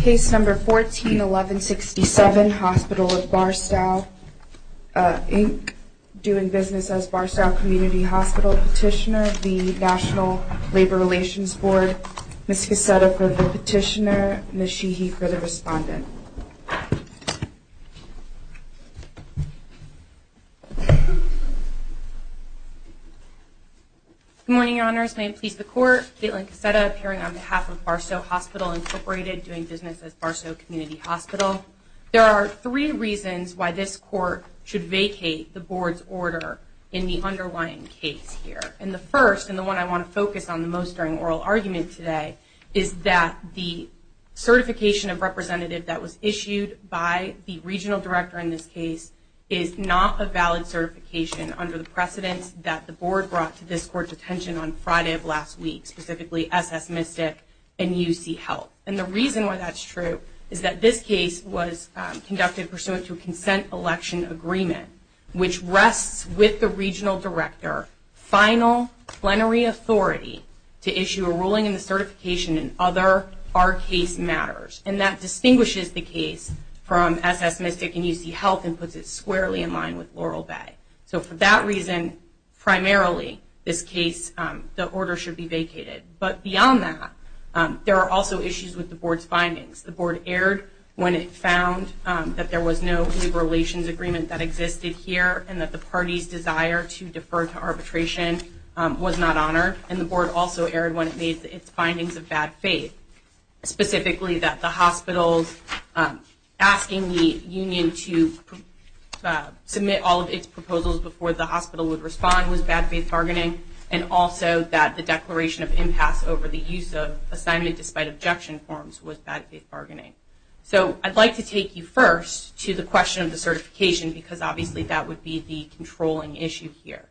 Case No. 14-1167, Hospital of Barstow, Inc., due in business as Barstow Community Hospital Petitioner, the National Labor Relations Board. Ms. Cassetta for the Petitioner, Ms. Sheehy for the Respondent. Good morning, Your Honors. May it please the Court, Gaitlin Cassetta, appearing on behalf of Barstow Hospital, Inc., doing business as Barstow Community Hospital. There are three reasons why this Court should vacate the Board's order in the underlying case here. And the first, and the one I want to focus on the most during oral argument today, is that the certification of representative that was issued by the regional director in this case is not a valid certification under the precedents that the Board brought to this Court's attention on Friday of last week, specifically SS Mystic and UC Health. And the reason why that's true is that this case was conducted pursuant to a consent election agreement, which rests with the regional director, final plenary authority to issue a ruling in the certification in other R case matters. And that distinguishes the case from SS Mystic and UC Health and puts it squarely in line with Laurel Bay. So for that reason, primarily, this case, the order should be vacated. But beyond that, there are also issues with the Board's findings. The Board erred when it found that there was no new relations agreement that existed here and that the party's desire to defer to arbitration was not honored. And the Board also erred when it made its findings of bad faith, specifically that the hospital's asking the union to submit all of its proposals before the hospital would respond was bad faith bargaining. And also that the declaration of impasse over the use of assignment despite objection forms was bad faith bargaining. So I'd like to take you first to the question of the certification, because obviously that would be the controlling issue here.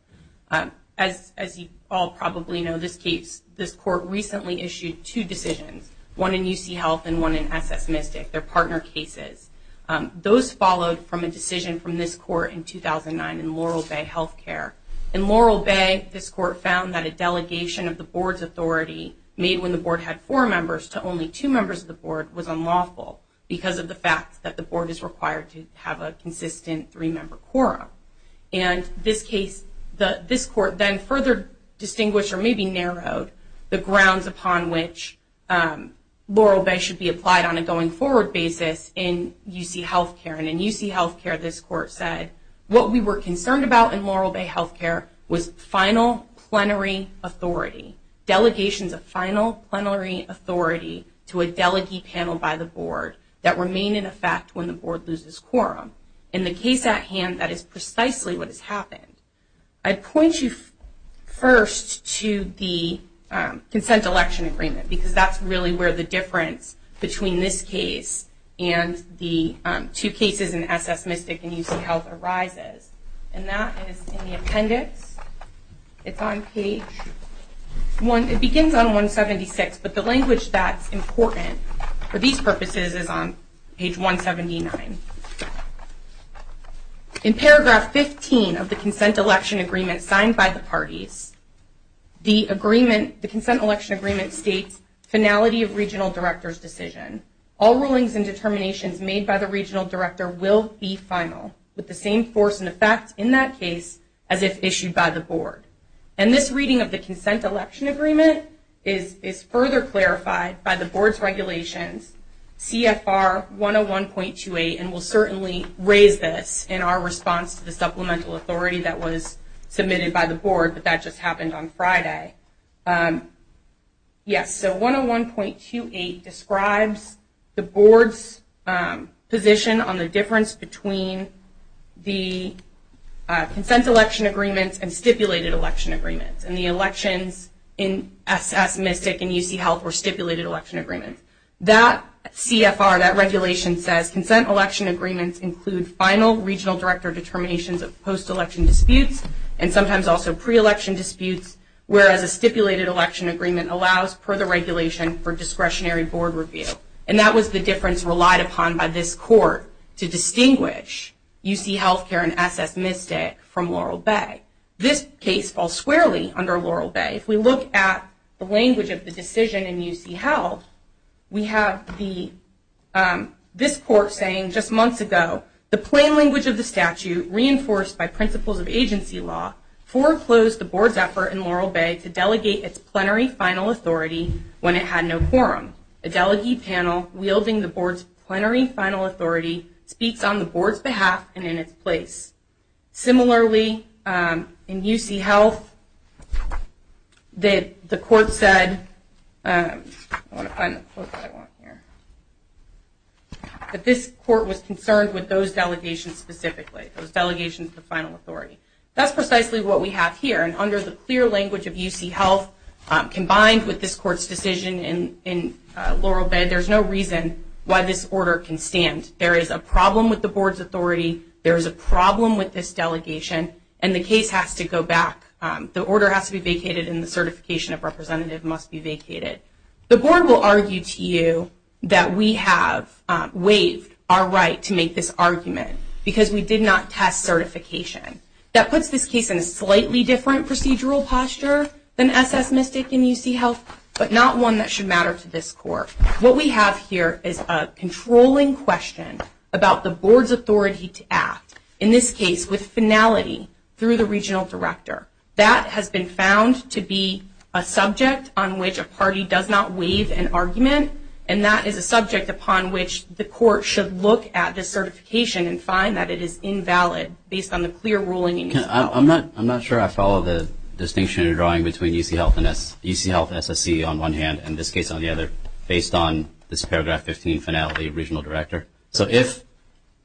As you all probably know, this court recently issued two decisions, one in UC Health and one in SS Mystic, their partner cases. Those followed from a decision from this court in 2009 in Laurel Bay Healthcare. In Laurel Bay, this court found that a delegation of the Board's authority made when the Board had four members to only two members of the Board was unlawful because of the fact that the Board is required to have a consistent three-member quorum. And this case, this court then further distinguished, or maybe narrowed, the grounds upon which Laurel Bay should be applied on a going forward basis in UC Healthcare. And in UC Healthcare, this court said, what we were concerned about in Laurel Bay Healthcare was final plenary authority. Delegations of final plenary authority to a delegee panel by the Board that remain in effect when the Board loses quorum. In the case at hand, that is precisely what has happened. I'd point you first to the Consent Election Agreement, because that's really where the difference between this case and the two cases in SS Mystic and UC Health arises. And that is in the appendix. It's on page one, it begins on 176, but the language that's important for these purposes is on page 179. In paragraph 15 of the Consent Election Agreement signed by the parties, the agreement, the Consent Election Agreement states, finality of regional director's decision. All rulings and determinations made by the regional director will be final, with the same force and effect in that case as if issued by the Board. And this reading of the Consent Election Agreement is further clarified by the Board's regulations, CFR 101.28, and we'll certainly raise this in our response to the supplemental authority that was submitted by the Board, but that just happened on Friday. Yes, so 101.28 describes the Board's position on the difference between the Consent Election Agreements and Stipulated Election Agreements, and the elections in SS Mystic and UC Health were Stipulated Election Agreements. That CFR, that regulation says, Consent Election Agreements include final regional director determinations of post-election disputes, and sometimes also pre-election disputes, whereas a Stipulated Election Agreement allows for the regulation for discretionary board review. And that was the difference relied upon by this court to distinguish UC Health Care and SS Mystic from Laurel Bay. This case falls squarely under Laurel Bay. If we look at the language of the decision in UC Health, we have this court saying just in language of the statute, reinforced by principles of agency law, foreclosed the Board's effort in Laurel Bay to delegate its plenary final authority when it had no quorum. A delegated panel wielding the Board's plenary final authority speaks on the Board's behalf and in its place. Similarly, in UC Health, the court said that this court was concerned with those delegations specifically, those delegations of final authority. That's precisely what we have here, and under the clear language of UC Health, combined with this court's decision in Laurel Bay, there's no reason why this order can stand. There is a problem with the Board's authority, there is a problem with this delegation, and the case has to go back. The order has to be vacated and the certification of representative must be vacated. The Board will argue to you that we have waived our right to make this argument because we did not test certification. That puts this case in a slightly different procedural posture than SS Mystic and UC Health, but not one that should matter to this court. What we have here is a controlling question about the Board's authority to act, in this case with finality through the regional director. That has been found to be a subject on which a party does not waive an argument, and that is a subject upon which the court should look at this certification and find that it is invalid based on the clear ruling in UC Health. I'm not sure I follow the distinction you're drawing between UC Health and SSC on one hand and this case on the other, based on this paragraph 15 finality of regional director. So if,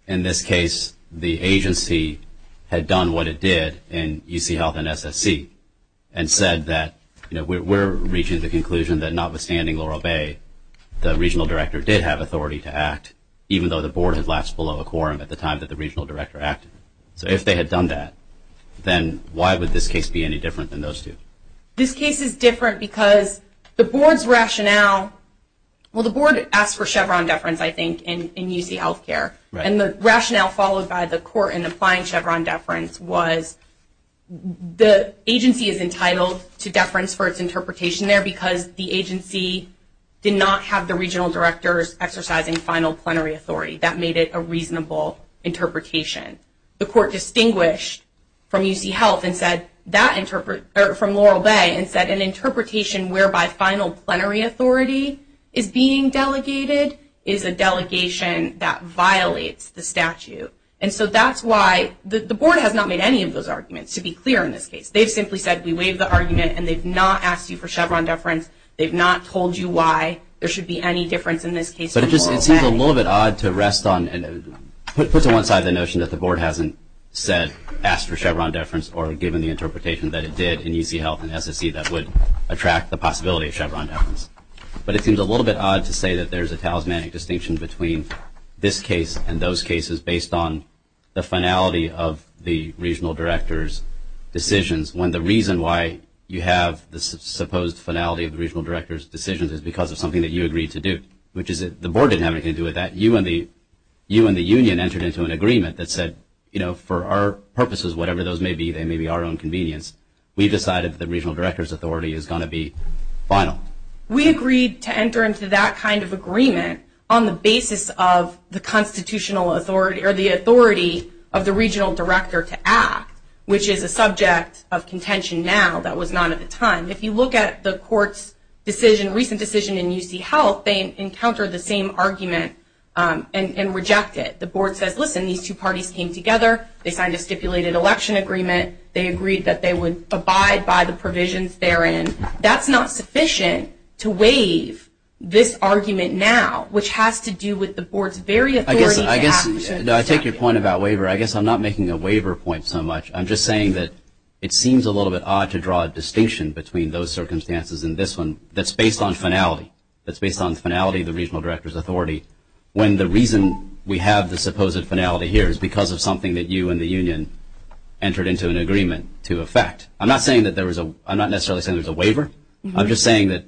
in this case, the agency had done what it did in UC Health and SSC and said that we're reaching the conclusion that notwithstanding Laurel Bay, the regional director did have authority to act, even though the Board had lapsed below a quorum at the time that the regional director acted. So if they had done that, then why would this case be any different than those two? This case is different because the Board's rationale, well the Board asked for Chevron deference I think in UC Health care, and the rationale followed by the court in applying Chevron deference was the agency is entitled to deference for its interpretation there because the agency did not have the regional director's exercising final plenary authority. That made it a reasonable interpretation. The court distinguished from Laurel Bay and said an interpretation whereby final plenary authority is being delegated is a delegation that violates the statute. And so that's why the Board has not made any of those arguments, to be clear in this case. They've simply said we waive the argument and they've not asked you for Chevron deference. They've not told you why there should be any difference in this case from Laurel Bay. But it just seems a little bit odd to rest on and put to one side the notion that the Board hasn't said, asked for Chevron deference or given the interpretation that it did in UC Health and SSC that would attract the possibility of Chevron deference. But it seems a little bit odd to say that there's a talismanic distinction between this case and those cases based on the finality of the regional director's decisions when the reason why you have this supposed finality of the regional director's decisions is because of something that you agreed to do, which is that the Board didn't have anything to do with that. You and the union entered into an agreement that said, you know, for our purposes, whatever those may be, they may be our own convenience, we decided that the regional director's authority is going to be final. We agreed to enter into that kind of agreement on the basis of the constitutional authority or the authority of the regional director to act, which is a subject of contention now. That was not at the time. If you look at the court's decision, recent decision in UC Health, they encounter the same argument and reject it. The Board says, listen, these two parties came together, they signed a stipulated election agreement, they agreed that they would abide by the provisions therein. That's not sufficient to waive this argument now, which has to do with the Board's very authority to act. I take your point about waiver. I guess I'm not making a waiver point so much. I'm just saying that it seems a little bit odd to draw a distinction between those circumstances and this one that's based on finality. That's based on finality of the regional director's authority when the reason we have the supposed finality here is because of something that you and the union entered into an agreement to effect. I'm not necessarily saying there's a waiver. I'm just saying that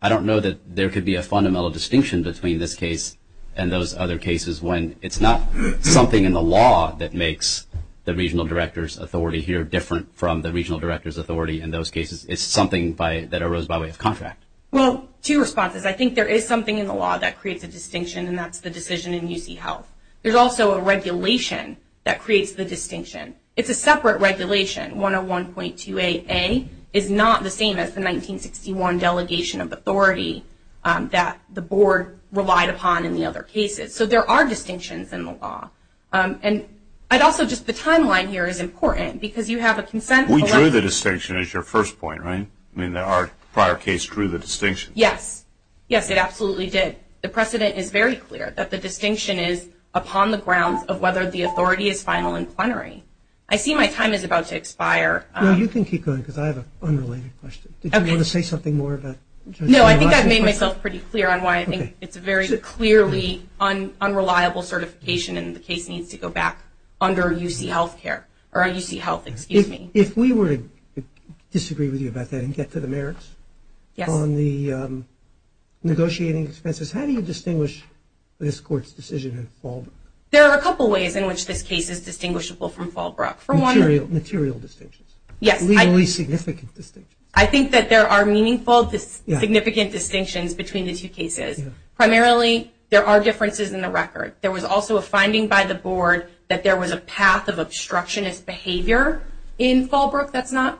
I don't know that there could be a fundamental distinction between this case and those other cases when it's not something in the law that makes the regional director's authority here different from the regional director's authority in those cases. It's something that arose by way of contract. Well, two responses. I think there is something in the law that creates a distinction, and that's the decision in UC Health. There's also a regulation that creates the distinction. It's a separate regulation. 101.2AA is not the same as the 1961 delegation of authority that the board relied upon in the other cases. So there are distinctions in the law. And I'd also just, the timeline here is important because you have a consent. We drew the distinction as your first point, right? I mean, our prior case drew the distinction. Yes. Yes, it absolutely did. The precedent is very clear that the distinction is upon the grounds of whether the authority is final and plenary. I see my time is about to expire. No, you can keep going because I have an unrelated question. Did you want to say something more No, I think I've made myself pretty clear on why I think it's a very clearly unreliable certification and the case needs to go back under UC Health, excuse me. If we were to disagree with you about that and get to the merits on the negotiating expenses, how do you distinguish this court's decision in Fallbrook? There are a couple ways in which this case is distinguishable from Fallbrook. Material distinctions. Yes. I think that there are meaningful, significant distinctions between the two cases. Primarily, there are differences in the record. There was also a finding by the board that there was a path of obstructionist behavior in Fallbrook that's not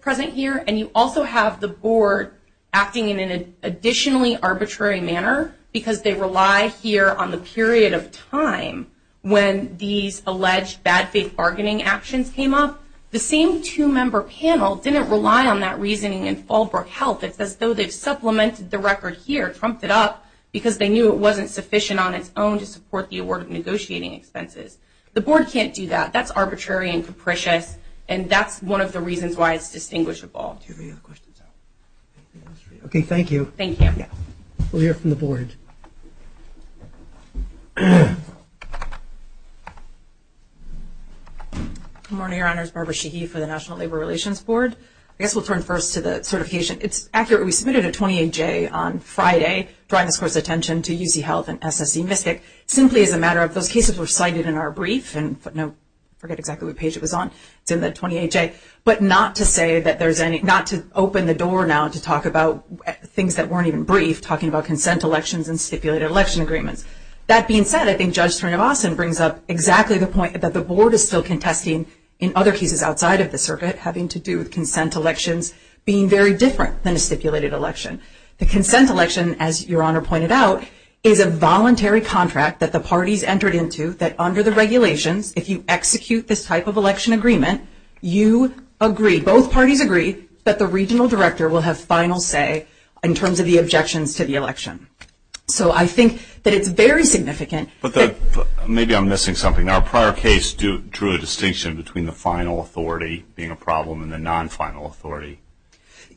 present here. And you also have the board acting in an additionally arbitrary manner because they rely here on the period of time when these alleged bad faith bargaining actions came up. The same two-member panel didn't rely on that reasoning in Fallbrook Health. It's as though they've supplemented the record here, trumped it up, because they knew it wasn't sufficient on its own to support the award of negotiating expenses. The board can't do that. That's arbitrary and capricious and that's one of the reasons why it's distinguishable. Do you have any other questions? Okay, thank you. Thank you. We'll hear from the board. Good morning, Your Honors. Barbara Sheehy for the National Labor Relations Board. I guess we'll turn first to the certification. It's accurate. We submitted a 28-J on Friday drawing this Court's attention to UC Health and SSE Mystic simply as a matter of those cases were cited in our brief. I forget exactly what page it was on. It's in the 28-J. But not to open the door now to talk about things that weren't even brief, talking about consent elections and stipulated election agreements. That being said, I think Judge Trinovason brings up exactly the point that the board is still contesting in other cases outside of the circuit having to do with consent elections being very different than a stipulated election. The consent election, as Your Honor pointed out, is a voluntary contract that the parties entered into that under the regulations, if you execute this type of election agreement, you agree, both parties agree, that the regional director will have final say in terms of the objections to the election. So I think that it's very significant. Maybe I'm missing something. Our prior case drew a distinction between the final authority being a problem and the non-final authority.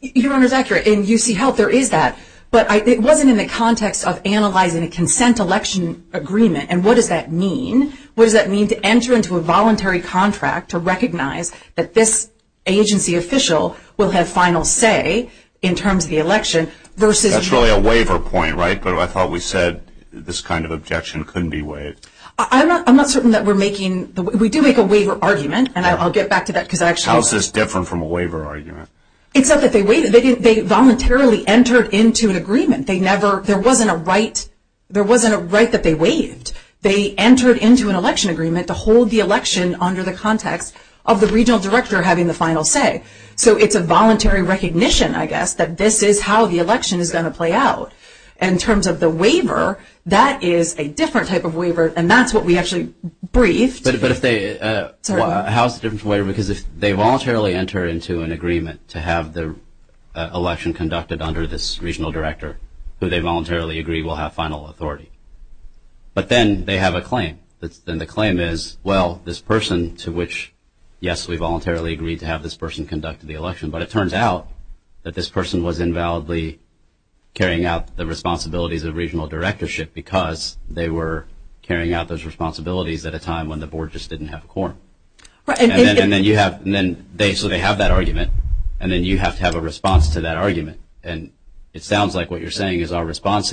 Your Honor is accurate. In UC Health there is that. But it wasn't in the context of analyzing a consent election agreement and what does that mean. What does that mean to enter into a voluntary contract to recognize that this agency official will have final say in terms of the election versus... That's really a waiver point, right? But I thought we said this kind of objection couldn't be waived. I'm not certain that we're making... We do make a waiver argument and I'll get back to that because I actually... How is this different from a waiver argument? It's not that they waived it. They voluntarily entered into an agreement. There wasn't a right that they waived. They entered into an election agreement to hold the election under the context of the regional director having the final say. So it's a voluntary recognition, I guess, that this is how the election is going to play out. In terms of the waiver, that is a different type of waiver and that's what we actually briefed. But if they... How is it different from a waiver? Because if they voluntarily enter into an agreement to have the election conducted under this regional director who they voluntarily agree will have final authority. But then they have a claim. Then the claim is, well, this person to which, yes, we voluntarily agreed to have this person conduct the election, but it turns out that this person was invalidly carrying out the responsibilities of regional directorship because they were carrying out those responsibilities at a time when the board just didn't have a quorum. And then you have... So they have that argument and then you have to have a response to that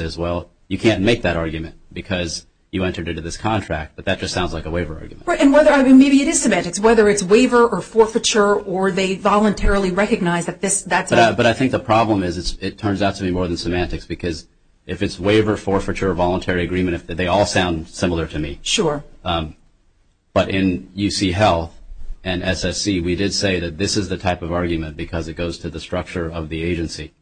as well. You can't make that argument because you entered into this contract, but that just sounds like a waiver argument. And whether... I mean, maybe it is semantics. Whether it's waiver or forfeiture or they voluntarily recognize that this, that's... But I think the problem is it turns out to be more than semantics because if it's waiver, forfeiture, voluntary agreement, they all sound similar to me. Sure. But in UC Health and SSC, we did say that this is the type of argument because it goes to the structure of the agency,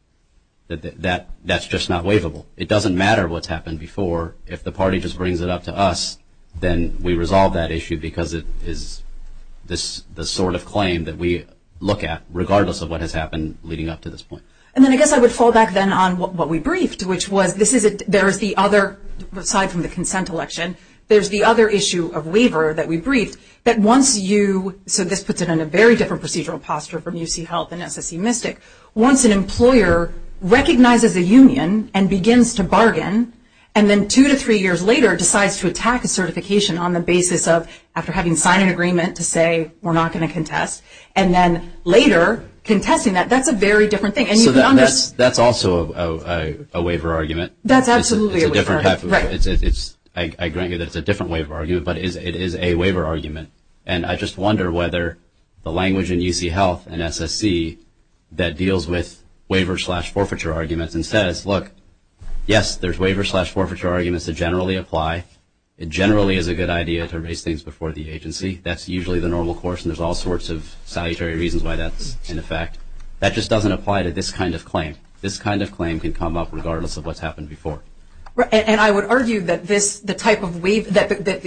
that that's just not waivable. It doesn't matter what's happened before. If the party just brings it up to us, then we resolve that issue because it is the sort of claim that we look at regardless of what has happened leading up to this point. And then I guess I would fall back then on what we briefed, which was this is... There is the other, aside from the consent election, there's the other issue of waiver that we briefed that once you... So this puts it in a very different procedural posture from UC Health and SSC. Once an employer recognizes a union and begins to bargain, and then two to three years later decides to attack a certification on the basis of after having signed an agreement to say we're not going to contest, and then later contesting that, that's a very different thing. So that's also a waiver argument? That's absolutely a waiver argument. It's a different type of... I agree that it's a different waiver argument, but it is a waiver whether the language in UC Health and SSC that deals with waiver slash forfeiture arguments and says, look, yes, there's waiver slash forfeiture arguments that generally apply. It generally is a good idea to raise things before the agency. That's usually the normal course and there's all sorts of salutary reasons why that's in effect. That just doesn't apply to this kind of claim. This kind of claim can come up regardless of what's happened before. And I would argue that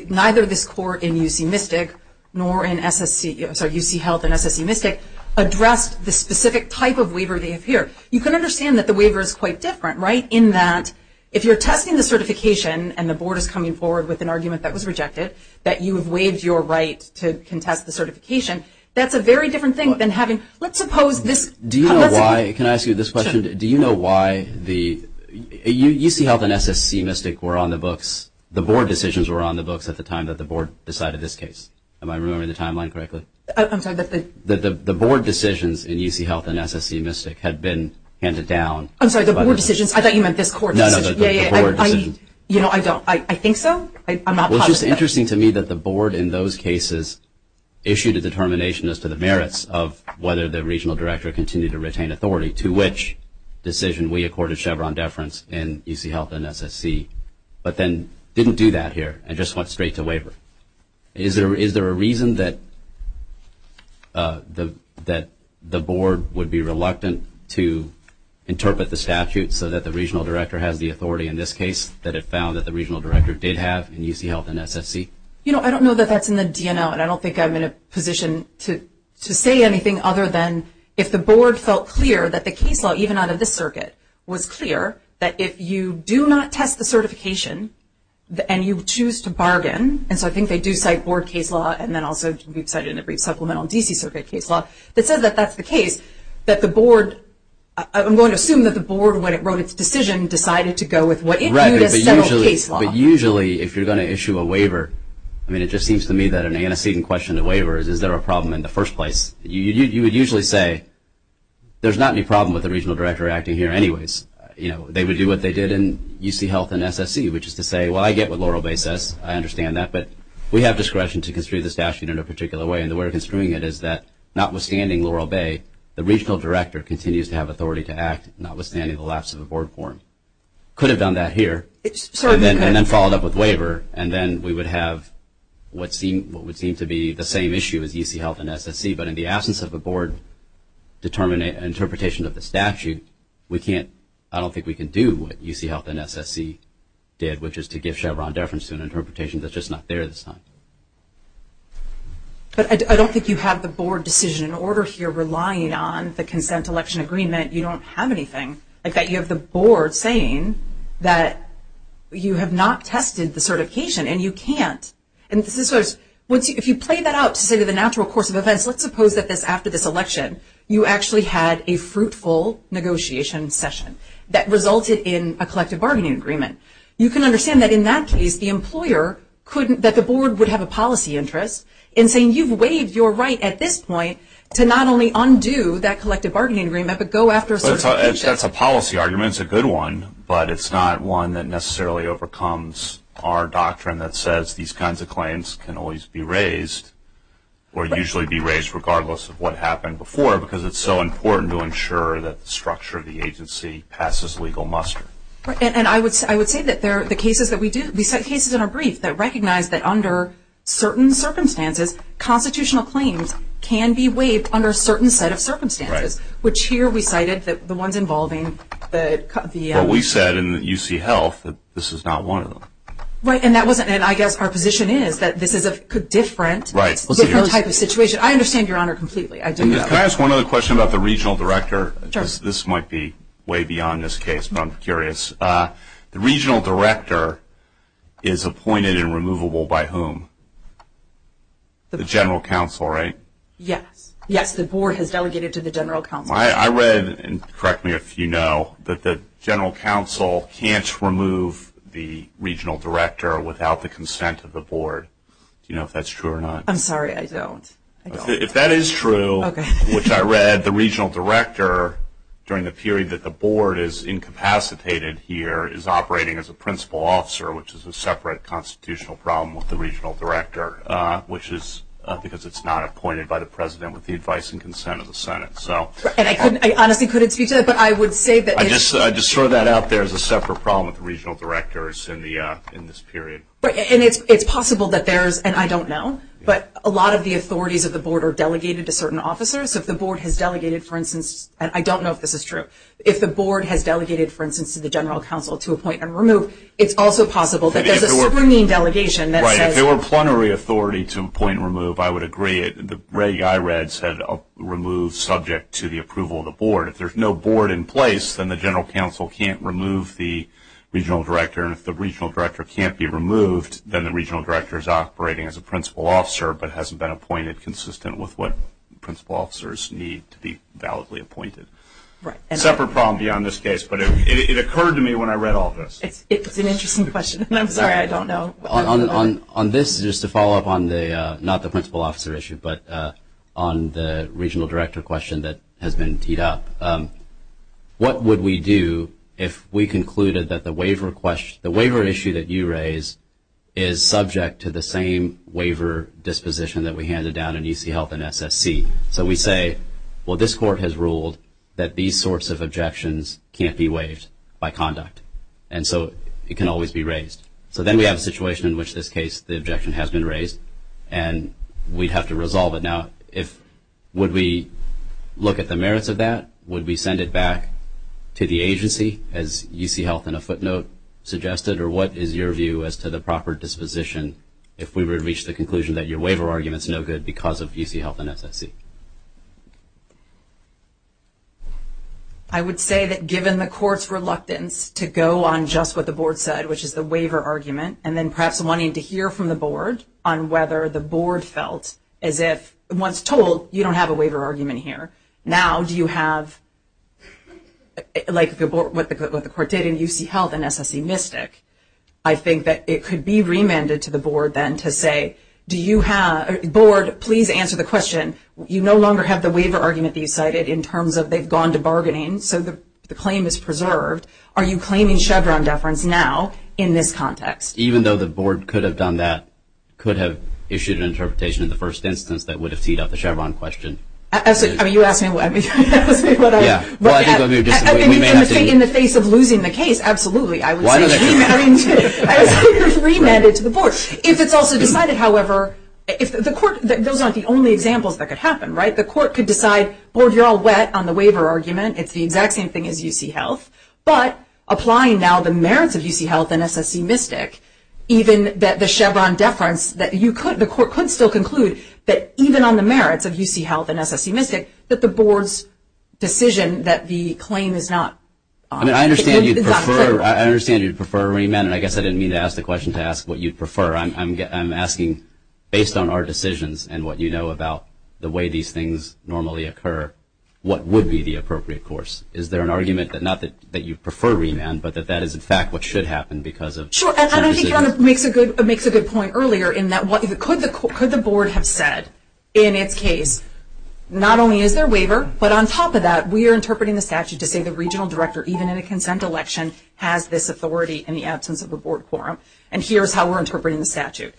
neither this court in UC Mystic nor in UC Health and SSC Mystic addressed the specific type of waiver they have here. You can understand that the waiver is quite different, right, in that if you're testing the certification and the board is coming forward with an argument that was rejected, that you have waived your right to contest the certification, that's a very different thing than having, let's suppose this... Do you know why, can I ask you this question? Do you know why the UC Health and SSC Mystic were on the books, the board decisions were on the books at the time that the board decided this case? Am I remembering the timeline correctly? I'm sorry, that the... That the board decisions in UC Health and SSC Mystic had been handed down... I'm sorry, the board decisions? I thought you meant this court decision. No, no, the board decisions. Yeah, yeah, I, you know, I don't, I think so. I'm not positive. Well, it's just interesting to me that the board in those cases issued a determination as to the merits of whether the regional director continued to retain authority to which decision we accorded Chevron deference in UC Health and SSC, but then didn't do that here and just went straight to waiver. Is there, is there a reason that the, that the board would be reluctant to interpret the statute so that the regional director has the authority in this case that it found that the regional director did have in UC Health and SSC? You know, I don't know that that's in the DNL, and I don't think I'm in a position to, to say anything other than if the board felt clear that the case law, even out of the circuit, was clear, that if you do not test the certification, and you choose to bargain, and so I think they do cite board case law, and then also we've cited in the brief supplemental DC circuit case law, that says that that's the case, that the board, I'm going to assume that the board, when it wrote its decision, decided to go with what it viewed as federal case law. But usually, if you're going to issue a waiver, I mean, it just seems to me that an antecedent question to waiver is, is there a problem in the first place? You would usually say, there's not any problem with the regional director acting here anyways. You know, they would do what they did in UC Health and SSC, which is to say, well, I get what Laurel Bay says, I understand that, but we have discretion to construe the statute in a particular way, and the way of construing it is that, notwithstanding Laurel Bay, the regional director continues to have authority to act, notwithstanding the lapse of the board forum. Could have done that here, and then followed up with waiver, and then we would have what would seem to be the same issue as UC Health and SSC, but in the absence of a board interpretation of the statute, we can't, I don't think we can do what UC Health and SSC did, which is to give Chevron deference to an interpretation that's just not there this time. But I don't think you have the board decision in order here, relying on the consent election agreement, you don't have anything, like that you have the board saying that you have not tested the certification, and you can't. And this is sort of, if you play that out to say to the natural course of events, let's suppose that this, after this election, you actually had a fruitful negotiation session that resulted in a collective bargaining agreement. You can understand that in that case, the employer couldn't, that the board would have a policy interest in saying, you've waived your right at this point to not only undo that but go after certification. That's a policy argument, it's a good one, but it's not one that necessarily overcomes our doctrine that says these kinds of claims can always be raised, or usually be raised regardless of what happened before, because it's so important to ensure that the structure of the agency passes legal muster. And I would say that there are the cases that we do, we cite cases in our brief that recognize that under certain circumstances, constitutional claims can be waived under a certain set of circumstances. We cited the ones involving the... Well, we said in the UC Health that this is not one of them. Right, and that wasn't, and I guess our position is that this is a different type of situation. I understand your honor completely. Can I ask one other question about the regional director? Sure. This might be way beyond this case, but I'm curious. The regional director is appointed and removable by whom? The general counsel, right? Yes. Yes, the board has delegated to the general counsel. I read, and correct me if you know, that the general counsel can't remove the regional director without the consent of the board. Do you know if that's true or not? I'm sorry, I don't. If that is true, which I read, the regional director, during the period that the board is incapacitated here, is operating as a principal officer, which is a separate constitutional problem with the regional director, which is because it's not appointed by the president with the advice and consent of the senate. Right, and I honestly couldn't speak to that, but I would say that it is true. I just threw that out there as a separate problem with the regional directors in this period. Right, and it's possible that there's, and I don't know, but a lot of the authorities of the board are delegated to certain officers. If the board has delegated, for instance, and I don't know if this is true, if the board has delegated, for instance, to the general counsel to appoint and remove, it's also possible that there's a super mean delegation that says... Right, if there were plenary authority to appoint and remove, I would agree. I read that this had removed subject to the approval of the board. If there's no board in place, then the general counsel can't remove the regional director, and if the regional director can't be removed, then the regional director is operating as a principal officer, but hasn't been appointed consistent with what principal officers need to be validly appointed. Right. A separate problem beyond this case, but it occurred to me when I read all this. It's an interesting question, and I'm sorry, I don't know. On this, just to follow up on the, not the principal officer issue, but on the regional director question that has been teed up, what would we do if we concluded that the waiver issue that you raise is subject to the same waiver disposition that we handed down in UC Health and SSC? So we say, well, this court has ruled that these sorts of objections can't be waived by conduct, and so it can always be raised. So then we have a situation in which this case, the objection has been raised, and we'd have to resolve it. Now, if, would we look at the merits of that? Would we send it back to the agency, as UC Health in a footnote suggested, or what is your view as to the proper disposition if we were to reach the conclusion that your waiver argument's no good because of UC Health and SSC? I would say that given the court's reluctance to go on just what the board said, which is the waiver argument, and then perhaps wanting to hear from the board on whether the board felt as if, once told, you don't have a waiver argument here, now do you have, like what the court did in UC Health and SSC Mystic, I think that it could be remanded to the board then to say, do you have, board, please answer the question. You no longer have the waiver argument that you cited in terms of they've gone to bargaining, so the claim is preserved. Are you claiming Chevron deference now in this context? Even though the board could have done that, could have issued an interpretation in the first instance that would have teed up the Chevron question. I mean, you asked me what I, I mean, in the face of losing the case, absolutely, I would have said no, but it's also decided, however, if the court, those aren't the only examples that could happen, right? The court could decide, board, you're all wet on the waiver argument, it's the exact same thing as UC Health, but applying now the merits of UC Health and SSC Mystic, even that the Chevron deference that you could, the court could still conclude that even on the merits of UC Health and SSC Mystic, that the board's decision that the claim is not, I mean, I understand you'd prefer, I understand you'd prefer remand, and I guess I didn't mean to ask the question to ask what you prefer, I'm asking, based on our decisions and what you know about the way these things normally occur, what would be the appropriate course? Is there an argument that not that you prefer remand, but that that is, in fact, what should happen because of Chevron decision? Sure, and I think you're on a, makes a good, makes a good point earlier in that what, could the, could the board have said, in its case, not only is there waiver, but on top of that, we are interpreting the statute to say the regional director, even in a consent election, has this authority in the absence of a board quorum, and here's how we're interpreting the statute.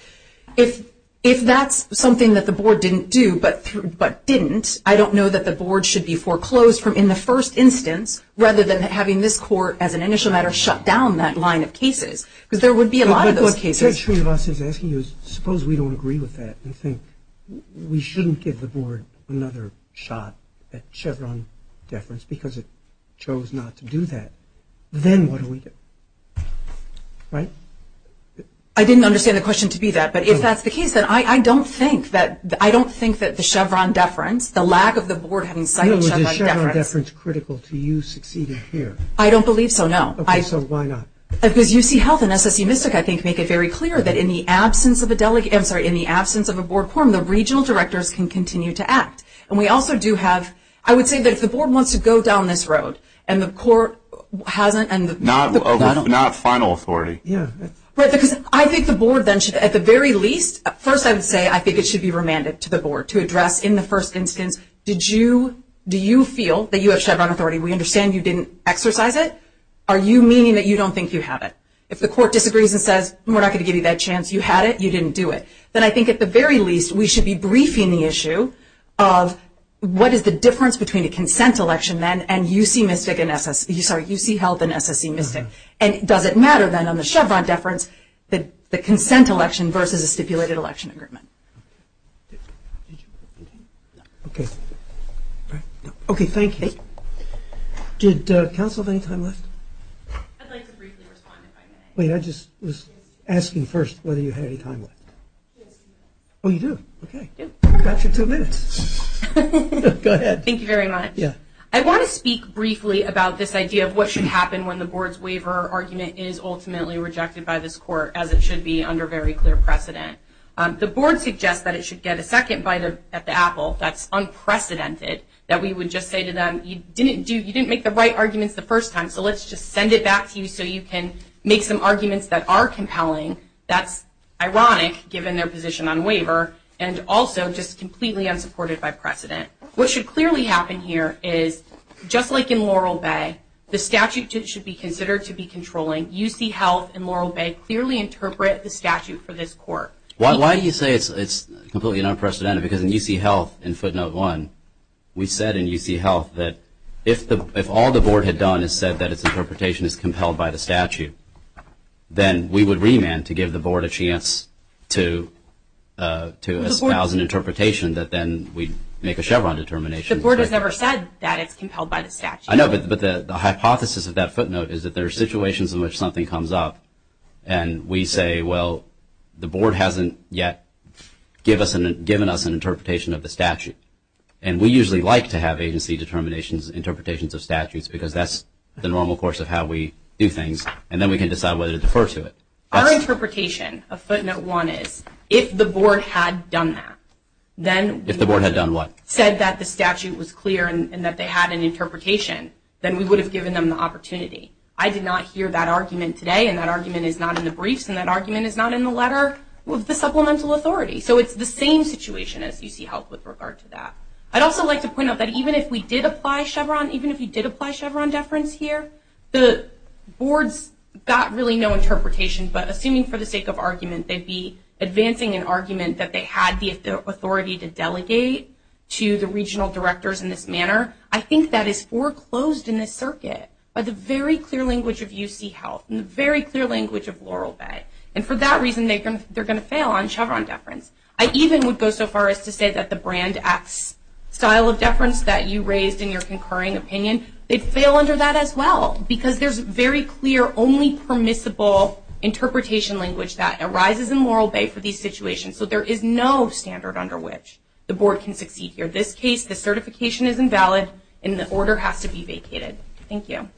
If, if that's something that the board didn't do, but through, but didn't, I don't know that the board should be foreclosed from, in the first instance, rather than having this court, as an initial matter, shut down that line of cases, because there would be a lot of those cases. But, but what Srinivas is asking is, suppose we don't agree with that and think we shouldn't give the board another shot at Chevron deference because it chose not to do that, then what do we do? Right? I didn't understand the question to be that, but if that's the case, then I, I don't think that, I don't think that the Chevron deference, the lack of the board having cited Chevron deference. I know, but is Chevron deference critical to you succeeding here? I don't believe so, no. Okay, so why not? Because UCHealth and SSU Mystic, I think, make it very clear that in the absence of a delegate, I'm sorry, in the absence of a board quorum, the regional directors can continue to act. And we also do have, I would say that if the board wants to go down this road, and the court hasn't, and the board, I don't know. But not final authority. Yeah. Right, because I think the board then should, at the very least, first I would say I think it should be remanded to the board to address in the first instance, did you, do you feel that you have Chevron authority? We understand you didn't exercise it. Are you meaning that you don't think you have it? If the court disagrees and says, we're not going to give you that chance. You had it. You didn't do it. Then I think at the very least, we should be briefing the issue of what is the difference between a consent election then and UCMystic and SSU, sorry, UCHealth and SSU Mystic. And does it matter then on the Chevron deference that the consent election versus a stipulated election agreement. Okay. Okay, thank you. Did counsel have any time left? I'd like to briefly respond if I may. Wait, I just was asking first whether you had any time left. Yes, we do. Oh, you do? Okay. We've got you two minutes. Go ahead. Thank you very much. Yeah. I want to speak briefly about this idea of what should happen when the board's way for argument is ultimately rejected by this court as it should be under very clear precedent. The board suggests that it should get a second bite at the apple. That's unprecedented that we would just say to them, you didn't make the right arguments the first time. So let's just send it back to you so you can make some arguments that are compelling. That's ironic given their position on waiver and also just completely unsupported by precedent. What should clearly happen here is just like in Laurel Bay, the statute should be considered to be controlling. UC Health and Laurel Bay clearly interpret the statute for this court. Why do you say it's completely unprecedented? Because in UC Health, in footnote one, we said in UC Health that if all the board had done is said that its interpretation is compelled by the statute, then we would remand to give the board a chance to espouse an interpretation that then we'd make a Chevron determination. The board has never said that it's compelled by the statute. I know, but the hypothesis of that footnote is that there are situations in which something comes up and we say, well, the board hasn't yet given us an interpretation of the statute. And we usually like to have agency determinations, interpretations of statutes, because that's the normal course of how we do things. And then we can decide whether to defer to it. Our interpretation of footnote one is if the board had done that, then we would have said that the statute was clear and that they had an interpretation, then we would have given them the opportunity. I did not hear that argument today, and that argument is not in the briefs, and that argument is not in the letter of the supplemental authority. So it's the same situation as UC Health with regard to that. I'd also like to point out that even if we did apply Chevron, even if we did apply Chevron deference here, the boards got really no interpretation. But assuming for the sake of argument, they'd be advancing an argument that they had the regional directors in this manner, I think that is foreclosed in this circuit by the very clear language of UC Health and the very clear language of Laurel Bay. And for that reason, they're going to fail on Chevron deference. I even would go so far as to say that the brand X style of deference that you raised in your concurring opinion, they'd fail under that as well, because there's very clear, only permissible interpretation language that arises in Laurel Bay for these situations. So there is no standard under which the board can succeed here. Under this case, the certification is invalid, and the order has to be vacated. Thank you.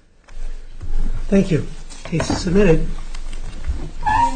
Thank you. Case is submitted.